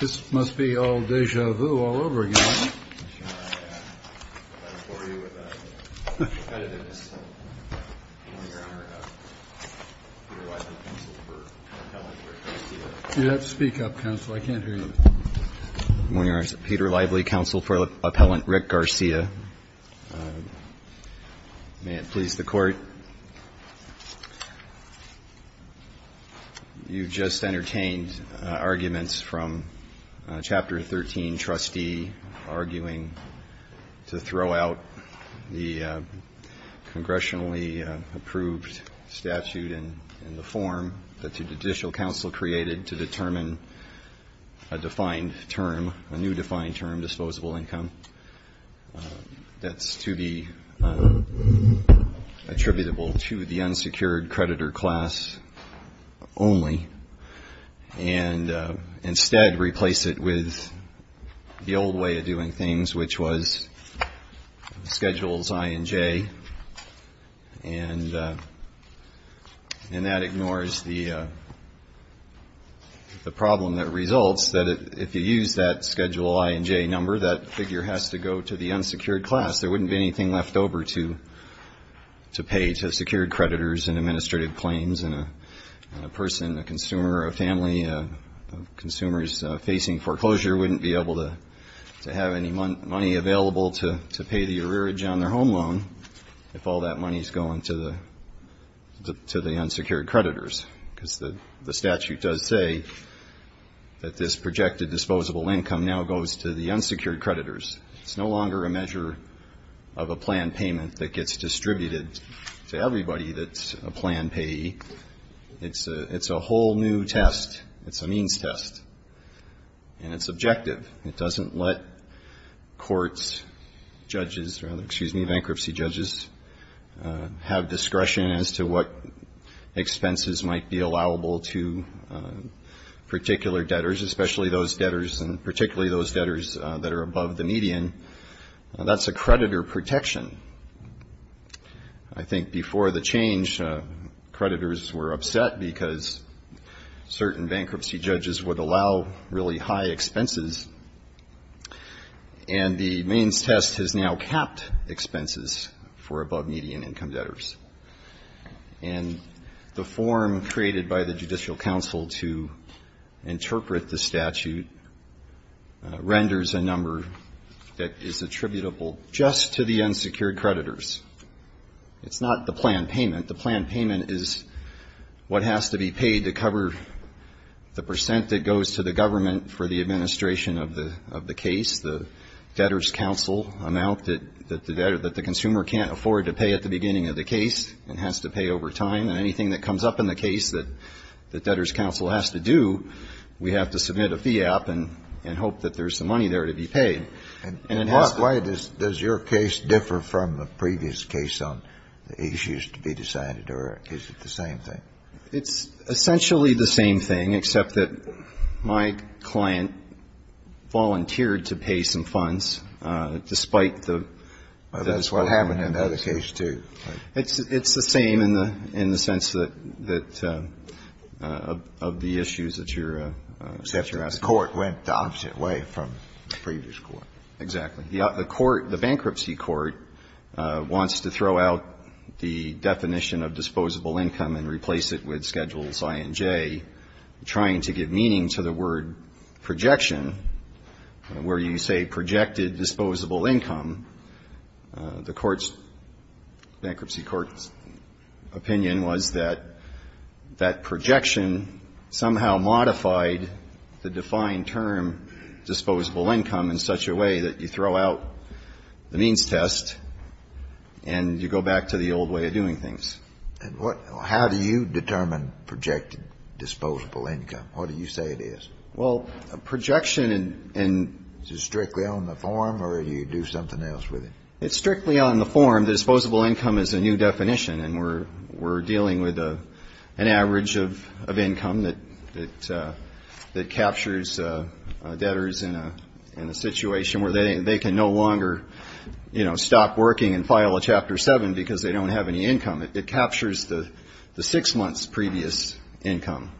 This must be all deja vu all over again. You have to speak up, counsel. I can't hear you. Good morning. I'm Peter Lively, counsel for Appellant Rick Garcia. May it please the Court. You've just entertained arguments from Chapter 13, Trustee, arguing to throw out the congressionally approved statute in the form that the judicial counsel created to determine a new defined term, disposable income, that's to be attributable to the unsecured creditor class only, and instead replace it with the old way of doing things, which was Schedules I and J, and that ignores the problem that results that if you use that Schedule I and J number, that figure has to go to the unsecured class. There wouldn't be anything left over to pay to secured creditors and administrative claims, and a person, a to pay the arrearage on their home loan if all that money is going to the unsecured creditors, because the statute does say that this projected disposable income now goes to the unsecured creditors. It's no longer a measure of a planned payment that gets distributed to everybody that's a planned payee. It's a whole new test. It's a means test, and it's objective. It doesn't let courts, judges, excuse me, bankruptcy judges, have discretion as to what expenses might be allowable to particular debtors, especially those debtors and particularly those debtors that are above the median. That's a creditor protection. I think before the change, creditors were upset because certain bankruptcy judges would allow really high expenses, and the means test has now capped expenses for above-median income debtors. And the form created by the Judicial Council to interpret the statute renders a number that is attributable just to the unsecured creditors. It's not the planned payment is what has to be paid to cover the percent that goes to the government for the administration of the case, the debtor's counsel amount that the consumer can't afford to pay at the beginning of the case and has to pay over time. And anything that comes up in the case that the debtor's counsel has to do, we have to submit a fee gap and hope that there's some money there to be paid. And, Mark, why does your case differ from the previous case on the issues to be decided, or is it the same thing? It's essentially the same thing, except that my client volunteered to pay some funds despite the... Well, that's what happened in the other case, too. It's the same in the sense that, of the issues that you're asking. The court went the opposite way from the previous court. Exactly. The court, the bankruptcy court, wants to throw out the definition of disposable income and replace it with Schedules I and J, trying to give meaning to the word projection, where you say projected disposable income. The court's, bankruptcy court's opinion was that that projection somehow modified the defined term disposable income in such a way that you throw out the means test and you go back to the old way of doing things. And what or how do you determine projected disposable income? What do you say it is? Well, a projection in... Is it strictly on the form or do you do something else with it? It's strictly on the form. The disposable income is a new definition. And we're dealing with an average of income that captures debtors in a situation where they can no longer, you know, stop working and file a Chapter 7 because they don't have any income. It captures the six months' previous income.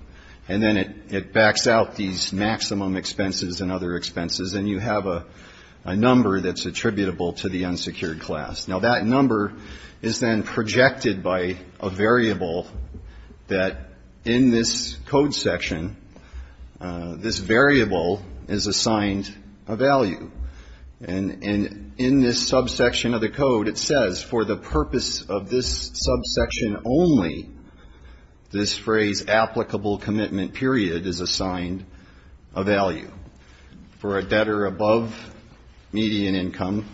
And then it backs out these maximum expenses and other expenses, and you have a number that's attributable to the unsecured class. Now, that number is then projected by a variable that in this code section, this variable is assigned a value. And in this subsection of the code, it says for the purpose of this subsection only, this phrase applicable commitment period is assigned a value. For a debtor above median income,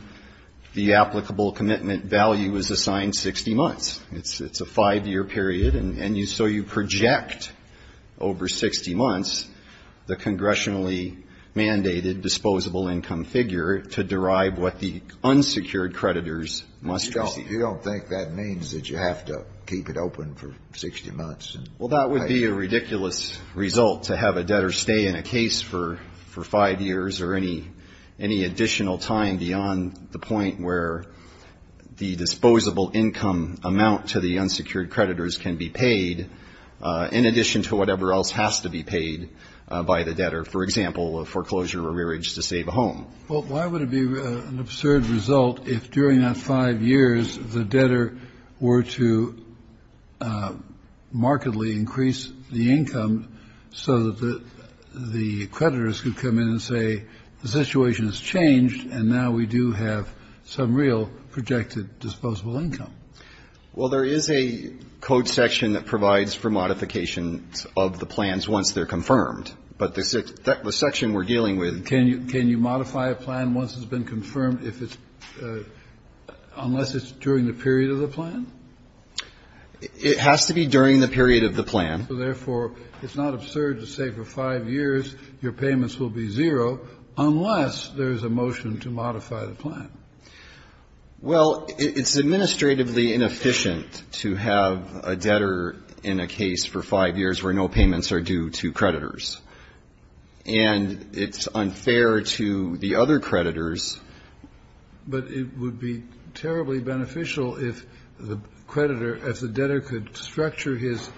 the applicable commitment value is assigned 60 months. It's a five-year period. And so you project over 60 months the congressionally mandated disposable income figure to derive what the unsecured creditors must receive. You don't think that means that you have to keep it open for 60 months? Well, that would be a ridiculous result to have a debtor stay in a case for five years or any additional time beyond the point where the disposable income amount to the unsecured creditors can be paid in addition to whatever else has to be paid by the debtor. For example, a foreclosure or rearage to save a home. Well, why would it be an absurd result if during that five years the debtor were to markedly increase the income so that the creditors could come in and say the situation has changed and now we do have some real projected disposable income? Well, there is a code section that provides for modifications of the plans once they're confirmed. So you can't modify a plan once it's been confirmed if it's unless it's during the period of the plan? It has to be during the period of the plan. So therefore, it's not absurd to say for five years your payments will be zero unless there's a motion to modify the plan? Well, it's administratively inefficient to have a debtor in a case for five years where no payments are due to creditors. And it's unfair to the other creditors. But it would be terribly beneficial if the creditor, if the debtor could structure his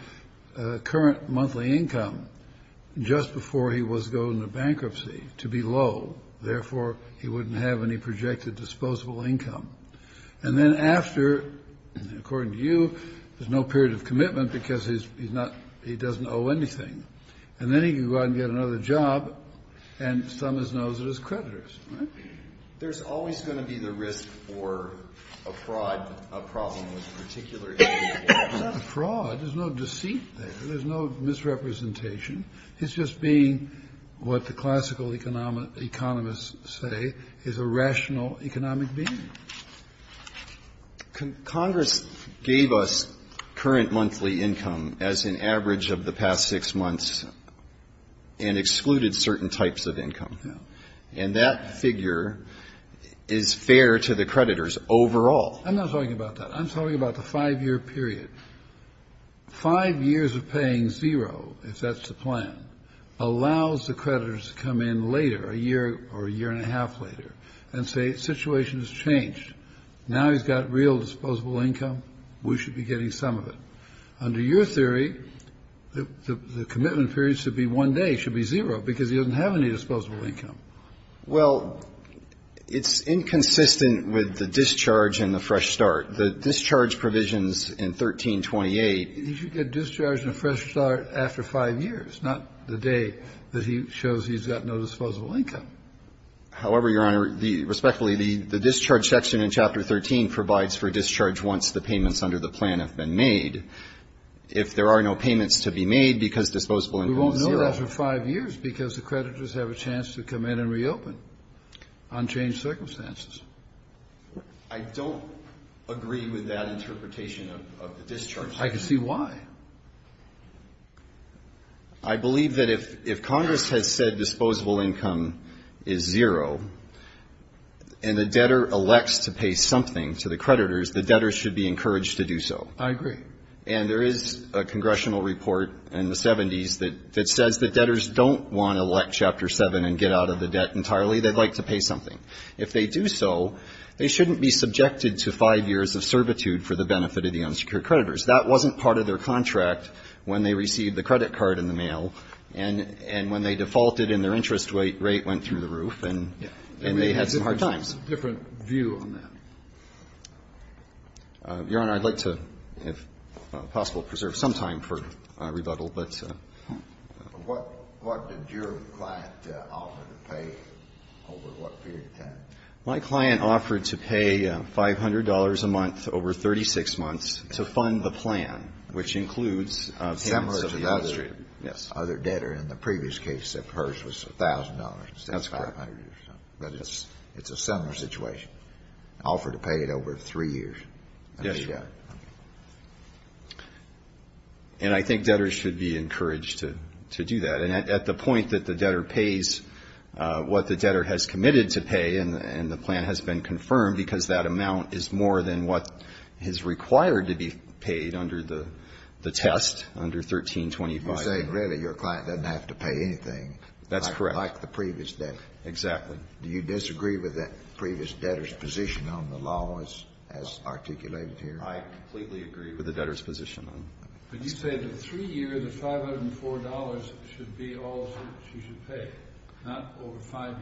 current monthly income just before he was going to bankruptcy to be low. Therefore, he wouldn't have any projected disposable income. And then after, according to you, there's no period of commitment because he's not He doesn't owe anything. And then he can go out and get another job, and some of those are his creditors. Right? There's always going to be the risk for a fraud, a problem with a particular individual. It's not a fraud. There's no deceit there. There's no misrepresentation. It's just being what the classical economists say is a rational economic being. Congress gave us current monthly income as an average of the past six months and excluded certain types of income. And that figure is fair to the creditors overall. I'm not talking about that. I'm talking about the five-year period. Five years of paying zero, if that's the plan, allows the creditors to come in later, a year or a year and a half later, and say the situation has changed. Now he's got real disposable income. We should be getting some of it. Under your theory, the commitment period should be one day. It should be zero because he doesn't have any disposable income. Well, it's inconsistent with the discharge and the fresh start. The discharge provisions in 1328 He should get discharged and a fresh start after five years, not the day that he shows he's got no disposable income. However, Your Honor, respectfully, the discharge section in Chapter 13 provides for discharge once the payments under the plan have been made. If there are no payments to be made because disposable income is zero. We won't know that for five years because the creditors have a chance to come in and reopen on changed circumstances. I don't agree with that interpretation of the discharge. I can see why. I believe that if Congress has said disposable income is zero and the debtor elects to pay something to the creditors, the debtors should be encouraged to do so. I agree. And there is a congressional report in the 70s that says the debtors don't want to elect Chapter 7 and get out of the debt entirely. They'd like to pay something. If they do so, they shouldn't be subjected to five years of servitude for the benefit of the unsecured creditors. That wasn't part of their contract when they received the credit card in the mail and when they defaulted and their interest rate went through the roof and they had some hard times. It's a different view on that. Your Honor, I'd like to, if possible, preserve some time for rebuttal, but. What did your client offer to pay over what period of time? My client offered to pay $500 a month over 36 months to fund the plan, which includes payments of the interest rate. Similar to the other debtor in the previous case that hers was $1,000 instead of $500. That's correct. But it's a similar situation. Offered to pay it over three years. Yes, Your Honor. And I think debtors should be encouraged to do that. And at the point that the debtor pays what the debtor has committed to pay and the plan has been confirmed because that amount is more than what is required to be paid under the test, under 1325. You're saying really your client doesn't have to pay anything. That's correct. Like the previous debtor. Exactly. Do you disagree with that previous debtor's position on the law as articulated here? I completely agree with the debtor's position on it. But you say that three years of $504 should be all she should pay, not over five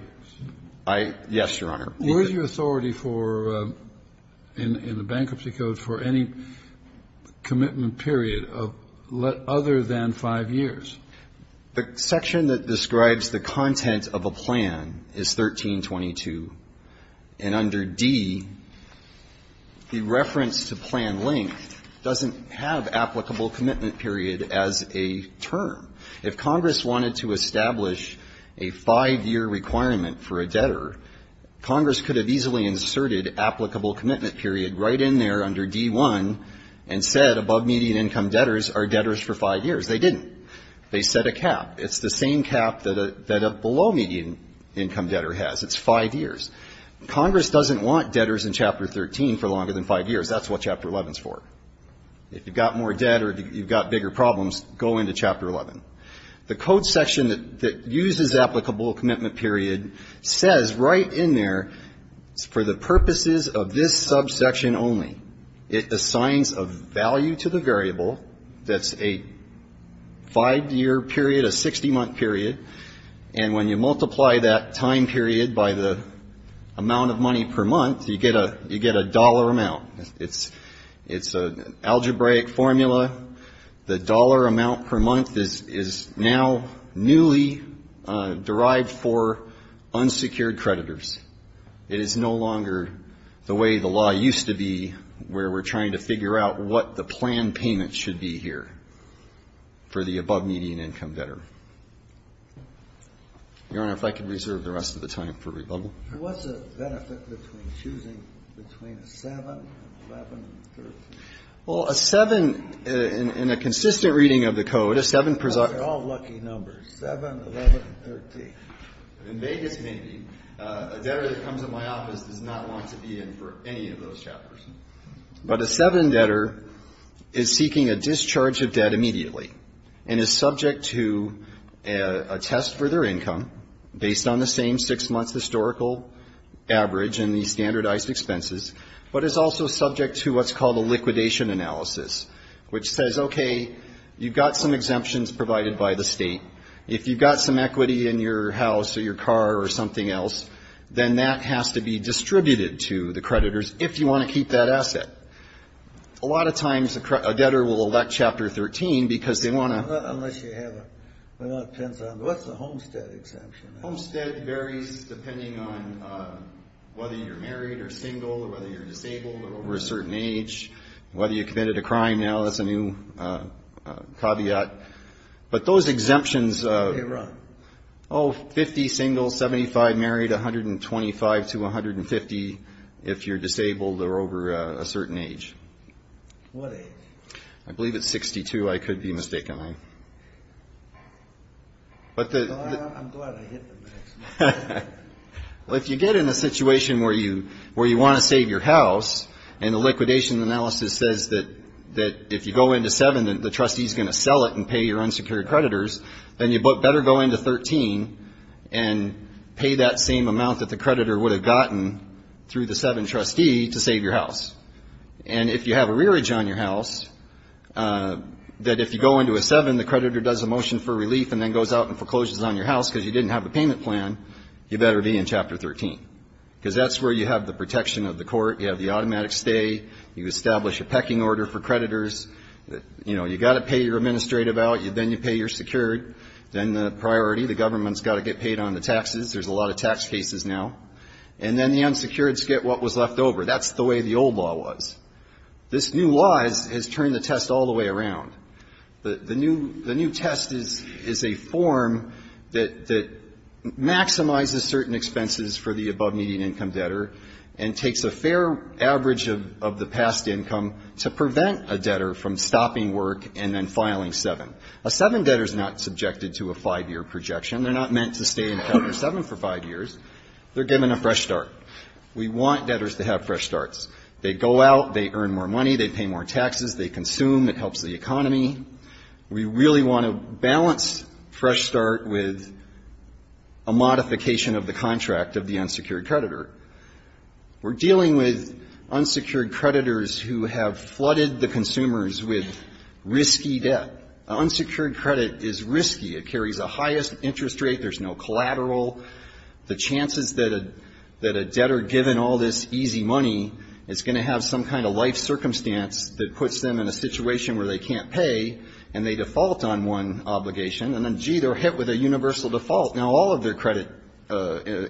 years. Yes, Your Honor. Where is your authority for, in the Bankruptcy Code, for any commitment period other than five years? The section that describes the content of a plan is 1322. And under D, the reference to plan length doesn't have applicable commitment period as a term. If Congress wanted to establish a five-year requirement for a debtor, Congress could have easily inserted applicable commitment period right in there under D1 and said above-median income debtors are debtors for five years. They didn't. They set a cap. It's the same cap that a below-median income debtor has. It's five years. Congress doesn't want debtors in Chapter 13 for longer than five years. That's what Chapter 11 is for. If you've got more debt or you've got bigger problems, go into Chapter 11. The code section that uses applicable commitment period says right in there, for the purposes of this subsection only, it assigns a value to the variable that's a five-year period, a 60-month period. And when you multiply that time period by the amount of money per month, you get a dollar amount. It's an algebraic formula. The dollar amount per month is now newly derived for unsecured creditors. It is no longer the way the law used to be where we're trying to figure out what the planned payment should be here for the above-median income debtor. Your Honor, if I could reserve the rest of the time for rebuttal. What's the benefit between choosing between a 7, 11, and 13? Well, a 7, in a consistent reading of the code, a 7 persons. Those are all lucky numbers, 7, 11, and 13. In Vegas, maybe. A debtor that comes in my office does not want to be in for any of those chapters. But a 7 debtor is seeking a discharge of debt immediately and is subject to a test for their income based on the same 6-month historical average and the standardized expenses, but is also subject to what's called a liquidation analysis, which says, okay, you've got some exemptions provided by the state. If you've got some equity in your house or your car or something else, then that has to be distributed to the creditors if you want to keep that asset. A lot of times a debtor will elect Chapter 13 because they want to. Unless you have a, well, it depends on, what's a homestead exemption? Homestead varies depending on whether you're married or single or whether you're disabled or over a certain age, whether you committed a crime. Now, that's a new caveat. But those exemptions. Okay, Ron. Oh, 50 single, 75 married, 125 to 150 if you're disabled or over a certain age. What age? I believe it's 62. I could be mistaken. I'm glad I hit the max. Well, if you get in a situation where you want to save your house and the liquidation analysis says that if you go into 7, the trustee is going to sell it and pay your unsecured creditors, then you better go into 13 and pay that same amount that the creditor would have gotten through the 7 trustee to save your house. And if you have a rearage on your house, that if you go into a 7, the creditor does a motion for relief and then goes out and forecloses on your house because you didn't have a payment plan, you better be in Chapter 13 because that's where you have the protection of the court. You have the automatic stay. You establish a pecking order for creditors. You've got to pay your administrative out. Then you pay your secured. Then the priority, the government's got to get paid on the taxes. There's a lot of tax cases now. And then the unsecured get what was left over. That's the way the old law was. This new law has turned the test all the way around. The new test is a form that maximizes certain expenses for the above median income debtor and takes a fair average of the past income to prevent a debtor from stopping work and then filing 7. A 7 debtor is not subjected to a 5-year projection. They're not meant to stay in Chapter 7 for 5 years. They're given a fresh start. We want debtors to have fresh starts. They go out. They earn more money. They pay more taxes. They consume. It helps the economy. We really want to balance fresh start with a modification of the contract of the unsecured creditor. We're dealing with unsecured creditors who have flooded the consumers with risky debt. Unsecured credit is risky. It carries the highest interest rate. There's no collateral. The chances that a debtor, given all this easy money, is going to have some kind of life circumstance that puts them in a situation where they can't pay and they default on one obligation. And then, gee, they're hit with a universal default. Now, all of their credit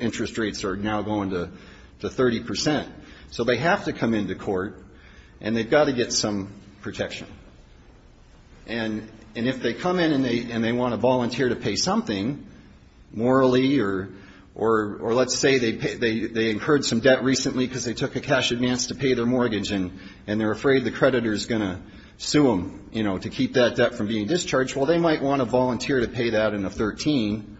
interest rates are now going to 30 percent. So they have to come into court and they've got to get some protection. And if they come in and they want to volunteer to pay something morally or let's say they incurred some debt recently because they took a cash advance to pay their mortgage and they're afraid the creditor is going to sue them, you know, to keep that debt from being discharged, well, they might want to volunteer to pay that in a 13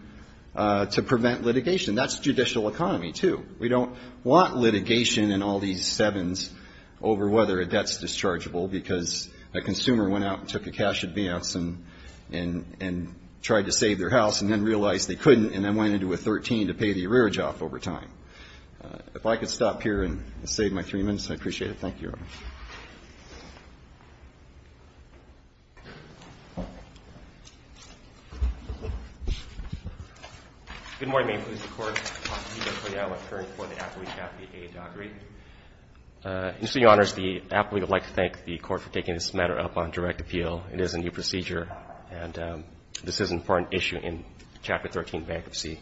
to prevent litigation. That's judicial economy, too. We don't want litigation in all these sevens over whether a debt's dischargeable because a consumer went out and took a cash advance and tried to save their house and then realized they couldn't and then went into a 13 to pay the arrearage off over time. If I could stop here and save my three minutes, I'd appreciate it. Thank you. Thank you, Your Honor. Good morning. May it please the Court. I'm Peter Coyote. I'm an attorney for the appellee, Kathy A. Dockery. Mr. Your Honor, as the appellee, I'd like to thank the Court for taking this matter up on direct appeal. It is a new procedure and this is an important issue in Chapter 13, Bankruptcy.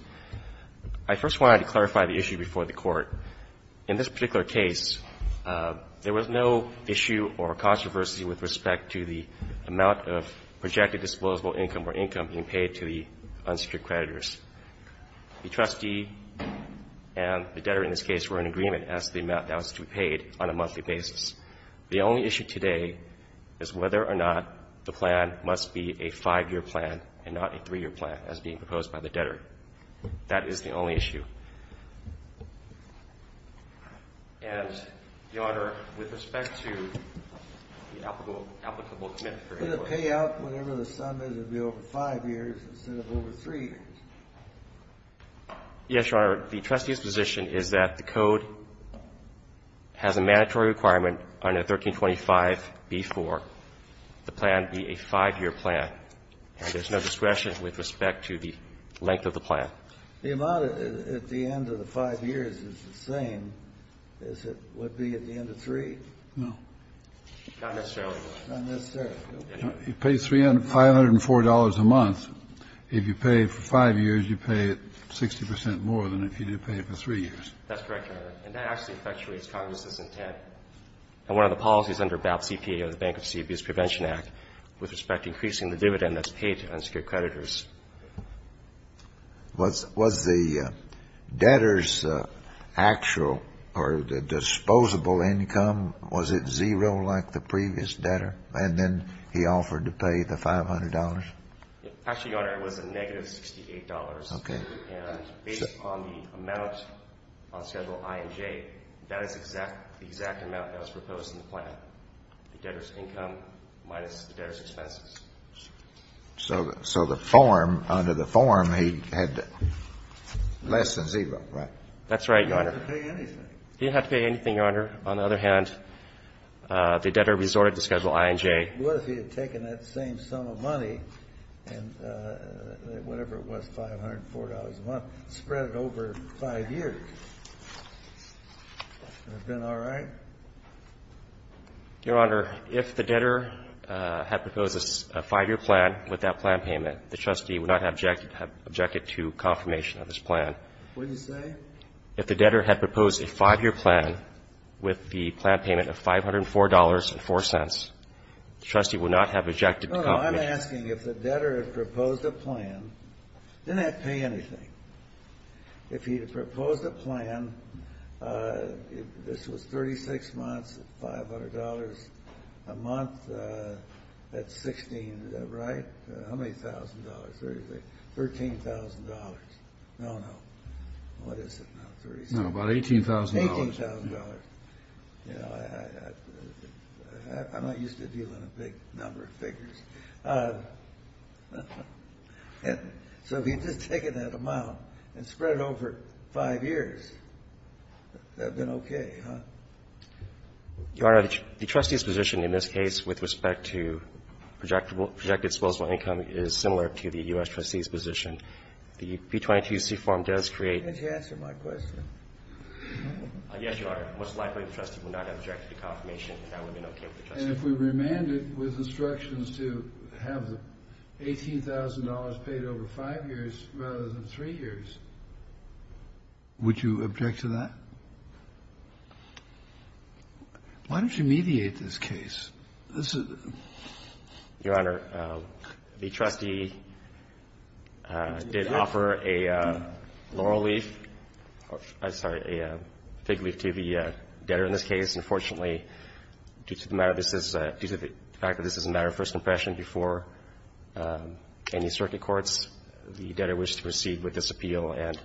I first wanted to clarify the issue before the Court. In this particular case, there was no issue or controversy with respect to the amount of projected disposable income or income being paid to the unsecured creditors. The trustee and the debtor in this case were in agreement as to the amount that was to be paid on a monthly basis. The only issue today is whether or not the plan must be a five-year plan and not a three-year plan as being proposed by the debtor. That is the only issue. And, Your Honor, with respect to the applicable commitment for any work. Could it pay out whatever the sum is and be over five years instead of over three years? Yes, Your Honor. The trustee's position is that the Code has a mandatory requirement on a 1325B4, the plan be a five-year plan, and there's no discretion with respect to the length of the plan. The amount at the end of the five years is the same as it would be at the end of three. No. Not necessarily. Not necessarily. You pay $504 a month. If you pay it for five years, you pay it 60 percent more than if you did pay it for three years. That's correct, Your Honor. And that actually effectuates Congress's intent. And one of the policies under BAP CPA of the Bankruptcy Abuse Prevention Act with respect to increasing the dividend that's paid to unsecured creditors. Was the debtor's actual or disposable income, was it zero like the previous debtor? And then he offered to pay the $500? Actually, Your Honor, it was a negative $68. Okay. And based on the amount on Schedule I and J, that is the exact amount that was proposed in the plan, the debtor's income minus the debtor's expenses. So the form, under the form, he had less than zero, right? That's right, Your Honor. He didn't have to pay anything. He didn't have to pay anything, Your Honor. On the other hand, the debtor resorted to Schedule I and J. What if he had taken that same sum of money and whatever it was, $504 a month, spread it over five years? Would it have been all right? Your Honor, if the debtor had proposed a five-year plan with that plan payment, the trustee would not have objected to confirmation of this plan. What did he say? If the debtor had proposed a five-year plan with the plan payment of $504.04, the trustee would not have objected to confirmation. No, no. I'm asking if the debtor had proposed a plan, didn't that pay anything? If he had proposed a plan, this was 36 months at $500 a month at 16, right? How many thousand dollars? $13,000. No, no. What is it now? About $18,000. $18,000. I'm not used to dealing with a big number of figures. So if he had just taken that amount and spread it over five years, that would have been okay, huh? Your Honor, the trustee's position in this case with respect to projected disposable income is similar to the U.S. trustee's position. The B-22C form does create... Can't you answer my question? Yes, Your Honor. Most likely, the trustee would not have objected to confirmation, and that would have been okay with the trustee. And if we remanded with instructions to have the $18,000 paid over five years rather than three years, would you object to that? Why don't you mediate this case? This is... Your Honor, the trustee did offer a laurel leaf or, I'm sorry, a fig leaf to the debtor's interest. But the fact is, due to the fact that this is a matter of first impression before any circuit courts, the debtor wishes to proceed with this appeal and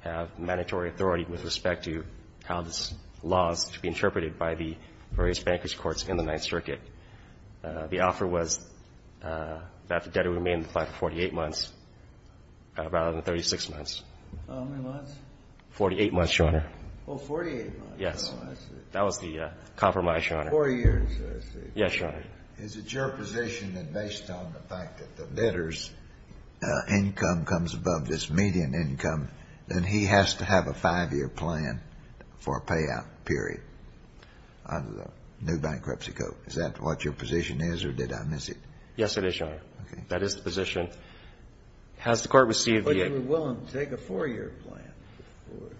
have mandatory authority with respect to how this laws to be interpreted by the various bankers' courts in the Ninth Circuit. The offer was that the debtor remain in the plan for 48 months rather than 36 months. How many months? 48 months, Your Honor. Oh, 48 months, I see. That was the compromise, Your Honor. Four years, I see. Yes, Your Honor. Is it your position that based on the fact that the debtor's income comes above this median income, then he has to have a five-year plan for a payout period under the new bankruptcy code? Is that what your position is, or did I miss it? Yes, it is, Your Honor. Okay. That is the position. Has the Court received the egg? But you were willing to take a four-year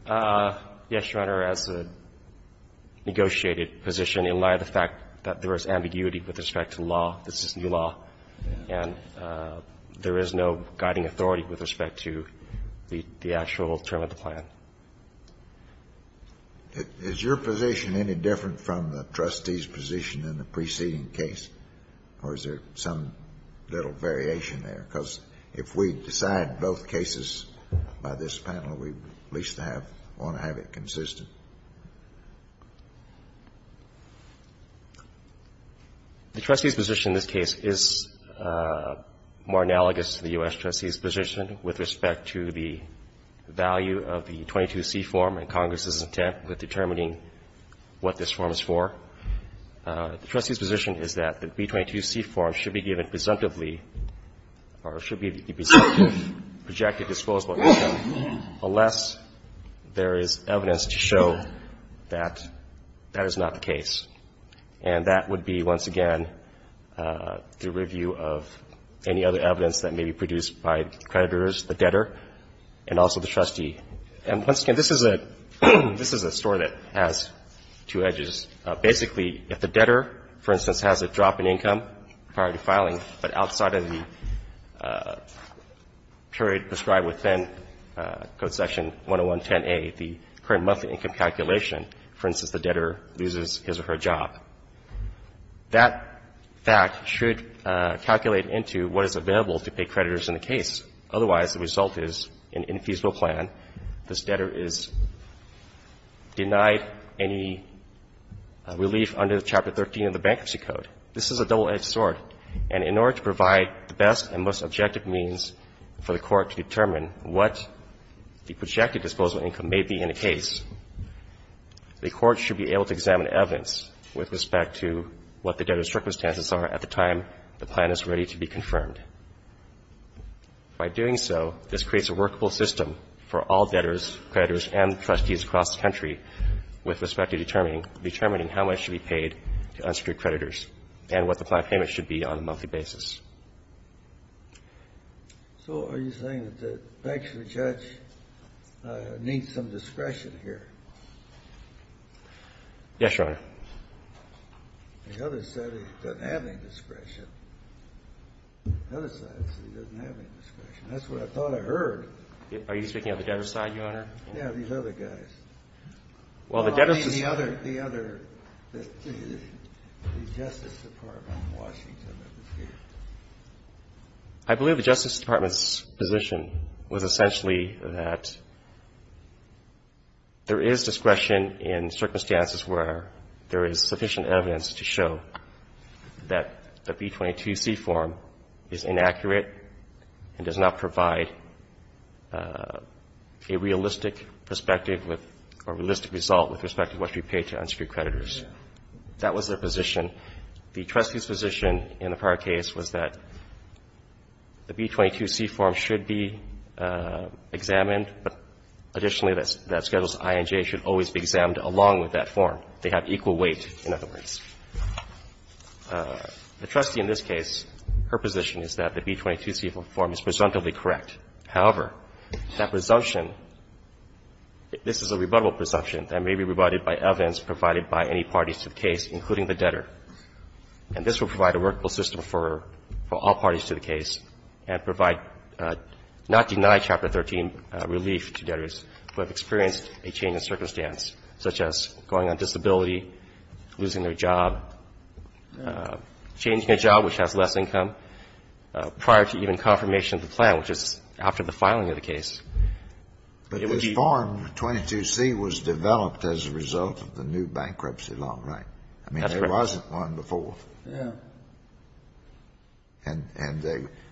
plan? Yes, Your Honor. As a negotiated position, in light of the fact that there is ambiguity with respect to law, this is new law, and there is no guiding authority with respect to the actual term of the plan. Is your position any different from the trustee's position in the preceding case, or is there some little variation there? Because if we decide both cases by this panel, we at least want to have it consistent. The trustee's position in this case is more analogous to the U.S. trustee's position with respect to the value of the 22C form and Congress's intent with determining what this form is for. The trustee's position is that the B-22C form should be given presumptively or should be presumptive, projected, disclosable unless there is evidence to show that that is not the case. And that would be, once again, the review of any other evidence that may be produced by creditors, the debtor, and also the trustee. And once again, this is a story that has two edges. Basically, if the debtor, for instance, has a drop in income prior to filing, but outside of the period prescribed within Code Section 10110A, the current monthly income calculation, for instance, the debtor loses his or her job, that fact should calculate into what is available to pay creditors in the case. Otherwise, the result is an infeasible plan. This debtor is denied any relief under Chapter 13 of the Bankruptcy Code. This is a double-edged sword. And in order to provide the best and most objective means for the court to determine what the projected disclosable income may be in a case, the court should be able to examine evidence with respect to what the debtor's circumstances are at the time the plan is ready to be confirmed. By doing so, this creates a workable system for all debtors, creditors, and trustees across the country with respect to determining how much should be paid to unsecured creditors and what the plan of payment should be on a monthly basis. So are you saying that the bankruptcy judge needs some discretion here? Yes, Your Honor. The other said he doesn't have any discretion. The other side said he doesn't have any discretion. That's what I thought I heard. Are you speaking of the debtor's side, Your Honor? Yeah, these other guys. Well, the debtor's side. The other, the Justice Department in Washington. I believe the Justice Department's position was essentially that there is discretion in circumstances where there is sufficient evidence to show that the B-22C form is inaccurate and does not provide a realistic perspective or realistic result with respect to what should be paid to unsecured creditors. That was their position. The trustee's position in the prior case was that the B-22C form should be examined, but additionally that Schedules I and J should always be examined along with that form. They have equal weight, in other words. The trustee in this case, her position is that the B-22C form is presumptively correct. However, that presumption, this is a rebuttable presumption that may be rebutted by evidence provided by any parties to the case, including the debtor. And this will provide a workable system for all parties to the case and provide not deny Chapter 13 relief to debtors who have experienced a change in circumstance, such as going on disability, losing their job, changing a job which has less income, prior to even confirmation of the plan, which is after the filing of the case. But this form, 22C, was developed as a result of the new bankruptcy law, right? That's correct. I mean, there wasn't one before. Yeah. And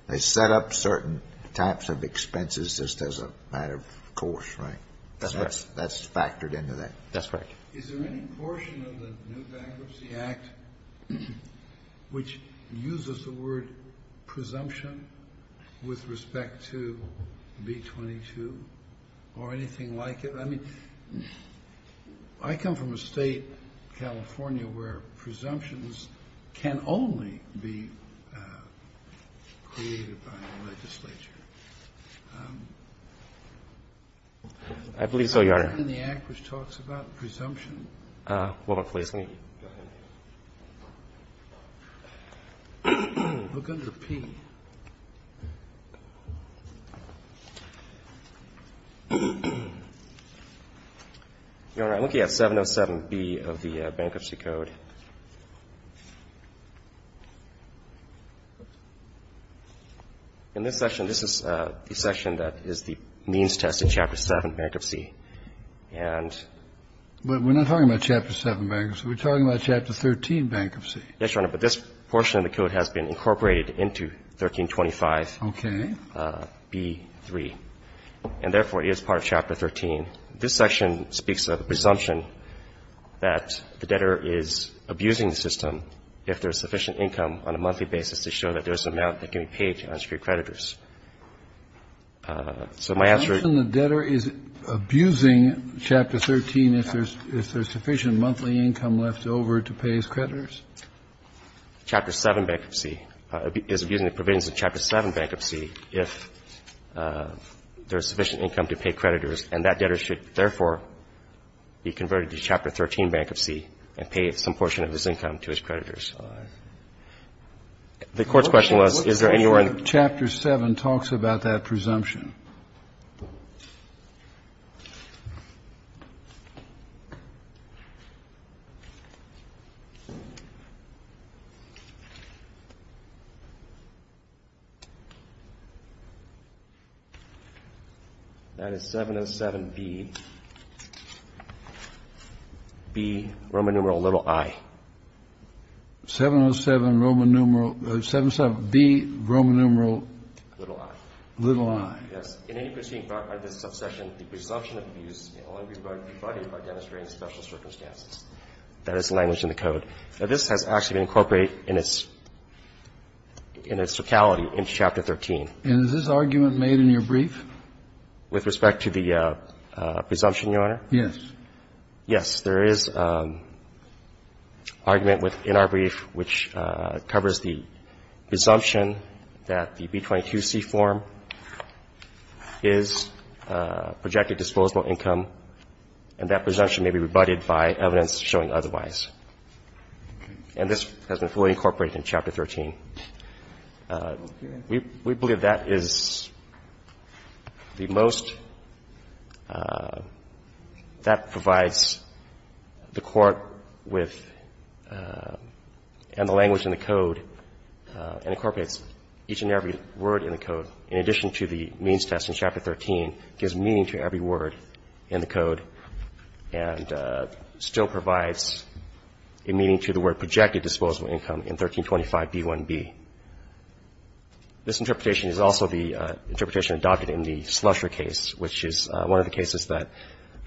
they set up certain types of expenses just as a matter of course, right? That's right. So that's factored into that. That's right. Is there any portion of the new Bankruptcy Act which uses the word presumption with respect to B-22 or anything like it? I mean, I come from a State, California, where presumptions can only be created by a legislature. I believe so, Your Honor. Is there anything in the Act which talks about presumption? Well, please. Go ahead. Look under P. Your Honor, I'm looking at 707B of the Bankruptcy Code. In this section, this is the section that is the means test in Chapter 7, Bankruptcy. And we're not talking about Chapter 7 Bankruptcy. We're talking about Chapter 13 Bankruptcy. Yes, Your Honor, but this portion of the code has been incorporated into 1325B-3. And therefore, it is part of Chapter 13. This section speaks of the presumption that the debtor is abusing the system if there is sufficient income on a monthly basis to show that there is an amount that can be paid to unsecured creditors. So my answer is the debtor is abusing Chapter 13 if there is sufficient monthly income left over to pay his creditors. Chapter 7 Bankruptcy is abusing the provisions of Chapter 7 Bankruptcy if there is sufficient income to pay creditors and that debtor should, therefore, be converted to Chapter 13 Bankruptcy and pay some portion of his income to his creditors. The Court's question was is there anywhere in the Court's question was is there anywhere in the Court's question was is there anywhere in the Court's question That is 707B, B, Roman numeral, little i. 707B, Roman numeral, little i. Yes. In any proceeding brought by this subsection, the presumption of abuse may only be provided by demonstrating special circumstances. That is the language in the code. Now, this has actually been incorporated in its totality in Chapter 13. And is this argument made in your brief? With respect to the presumption, Your Honor? Yes. Yes. There is argument in our brief which covers the presumption that the B-22C form is projected disposable income and that presumption may be rebutted by evidence showing otherwise. And this has been fully incorporated in Chapter 13. We believe that is the most that provides the Court with and the language in the code and incorporates each and every word in the code in addition to the means test in Chapter 13 gives meaning to every word in the code and still provides a meaning to the word projected disposable income in 1325B1B. This interpretation is also the interpretation adopted in the Slusher case, which is one of the cases that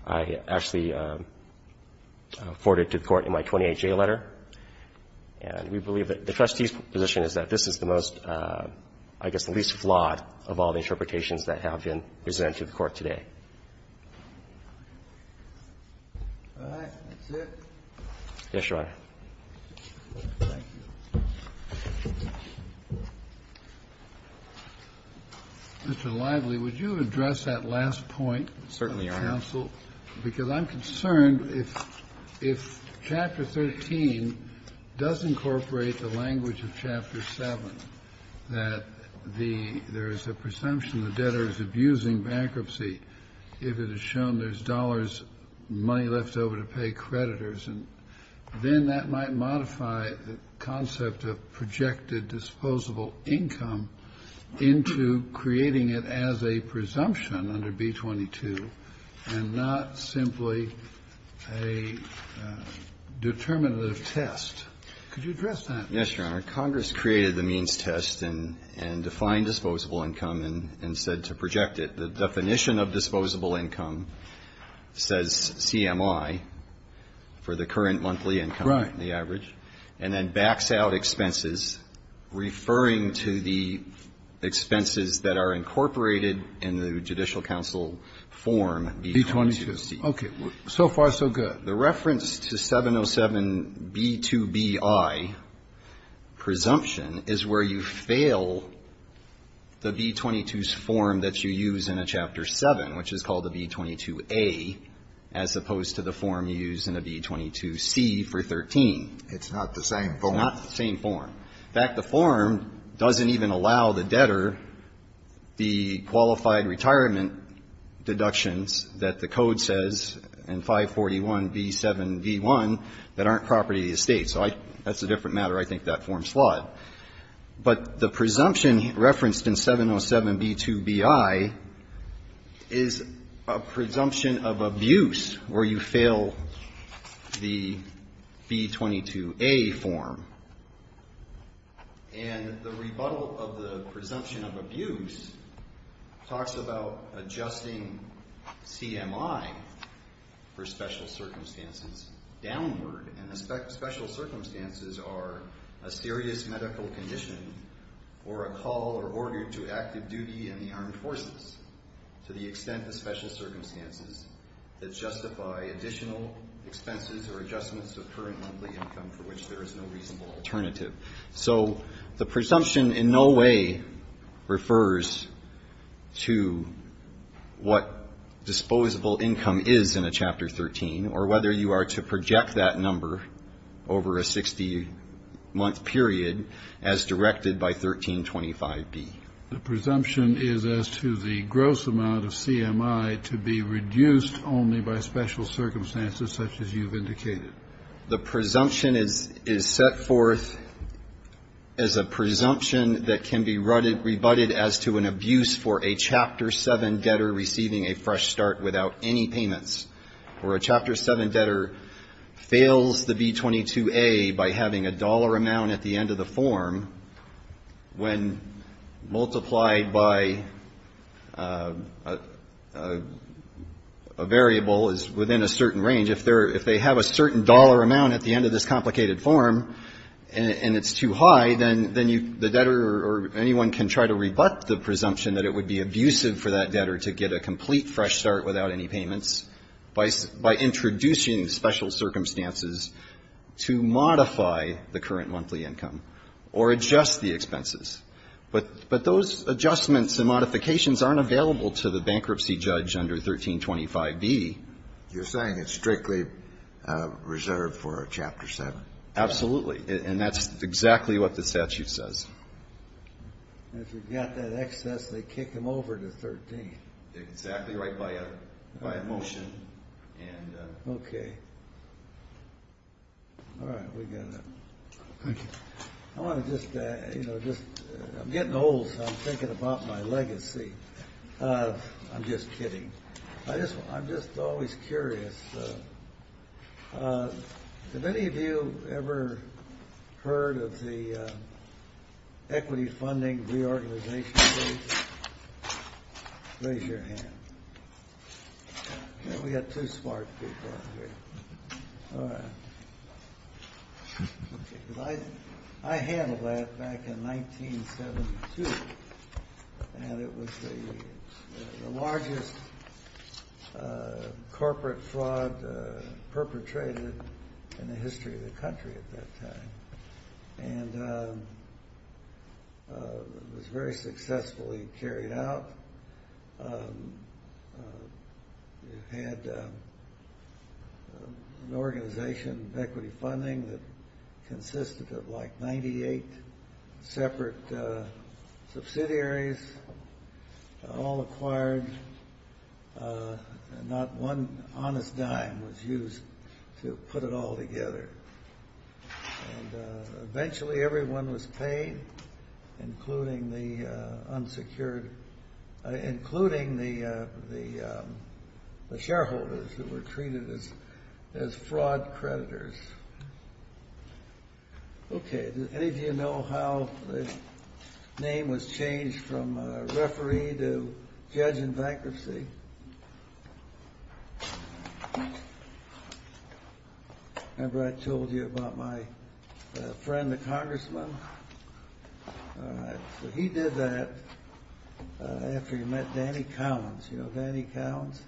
I actually forwarded to the Court in my 28J letter. And we believe that the trustee's position is that this is the most, I guess the least flawed of all the interpretations that have been presented to the Court today. All right. That's it. Yes, Your Honor. Thank you. Mr. Lively, would you address that last point? Certainly, Your Honor. Because I'm concerned if Chapter 13 does incorporate the language of Chapter 7, that there is a presumption the debtor is abusing bankruptcy if it is shown there's dollars, money left over to pay creditors. And then that might modify the concept of projected disposable income into creating it as a presumption under B-22 and not simply a determinative test. Yes, Your Honor. Congress created the means test and defined disposable income and said to project it. The definition of disposable income says CMI for the current monthly income, the average, and then backs out expenses referring to the expenses that are incorporated in the judicial counsel form B-22C. So far, so good. The reference to 707B2BI presumption is where you fail the B-22's form that you use in a Chapter 7, which is called the B-22A, as opposed to the form you use in a B-22C for 13. It's not the same form. Not the same form. In fact, the form doesn't even allow the debtor the qualified retirement deductions that the code says in 541B7V1 that aren't property of the estate. So that's a different matter. I think that form's flawed. But the presumption referenced in 707B2BI is a presumption of abuse where you fail the B-22A form. And the rebuttal of the presumption of abuse talks about adjusting CMI for special circumstances downward. And the special circumstances are a serious medical condition or a call or order to active duty in the armed forces to the extent of special circumstances that justify additional expenses or adjustments of current monthly income for which there is no reasonable alternative. So the presumption in no way refers to what disposable income is in a Chapter 13 or whether you are to project that number over a 60-month period as directed by 1325B. The presumption is as to the gross amount of CMI to be reduced only by special circumstances such as you've indicated. The presumption is set forth as a presumption that can be rebutted as to an abuse for a Chapter 7 debtor receiving a fresh start without any payments, where a Chapter 7 debtor fails the B-22A by having a dollar amount at the end of the form when multiplied by a variable is within a certain range. If they have a certain dollar amount at the end of this complicated form and it's too high, then the debtor or anyone can try to rebut the presumption that it would be abusive for that debtor to get a complete fresh start without any payments by introducing special circumstances to modify the current monthly income or adjust the expenses. But those adjustments and modifications aren't available to the bankruptcy judge under 1325B. You're saying it's strictly reserved for a Chapter 7? Absolutely. And that's exactly what the statute says. If you've got that excess, they kick them over to 13. Exactly right by a motion. Okay. I'm getting old, so I'm thinking about my legacy. I'm just kidding. I'm just always curious. Have any of you ever heard of the equity funding reorganization page? Raise your hand. We've got two smart people here. I handled that back in 1972 and it was the largest corporate fraud perpetrated in the history of the country at that time. And it was very successfully carried out. We had an organization of equity funding that consisted of like 98 separate subsidiaries all acquired and not one honest dime was used to put it all together. And eventually everyone was paid, including the unsecured, including the shareholders who were treated as fraud creditors. Okay. Did any of you know how the name was changed from referee to judge in bankruptcy? Remember I told you about my friend, the congressman? He did that after he met Danny Collins. You know Danny Collins?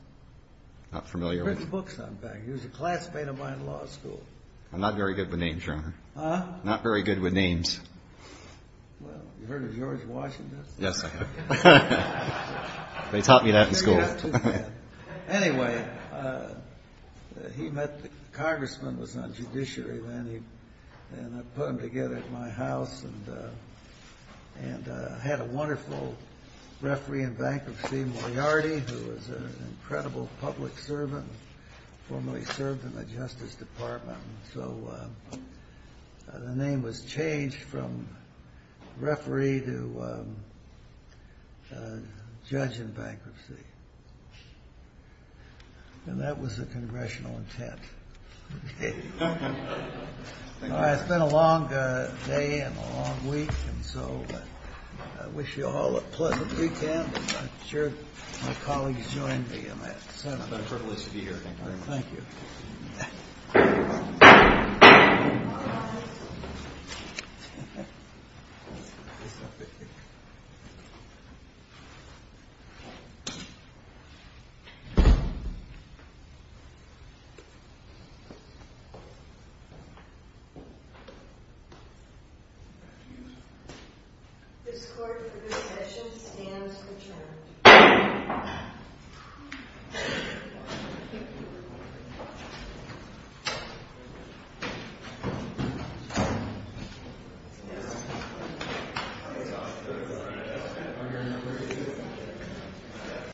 Not familiar with him. He was a classmate of mine in law school. I'm not very good with names, Your Honor. Huh? Not very good with names. Well, you've heard of George Washington? Yes, I have. They taught me that in school. Anyway, the congressman was on judiciary then and I put him together at my house and had a wonderful referee in bankruptcy, Moriarty, who was an incredible public servant, formerly served in the Justice Department. So the name was changed from referee to judge in bankruptcy. And that was the congressional intent. It's been a long day and a long week and so I wish you all a pleasant weekend. I'm sure my colleagues joined me in that. It's been a privilege to be here. Thank you. Thank you. All rise. This court for this session stands adjourned. Thank you.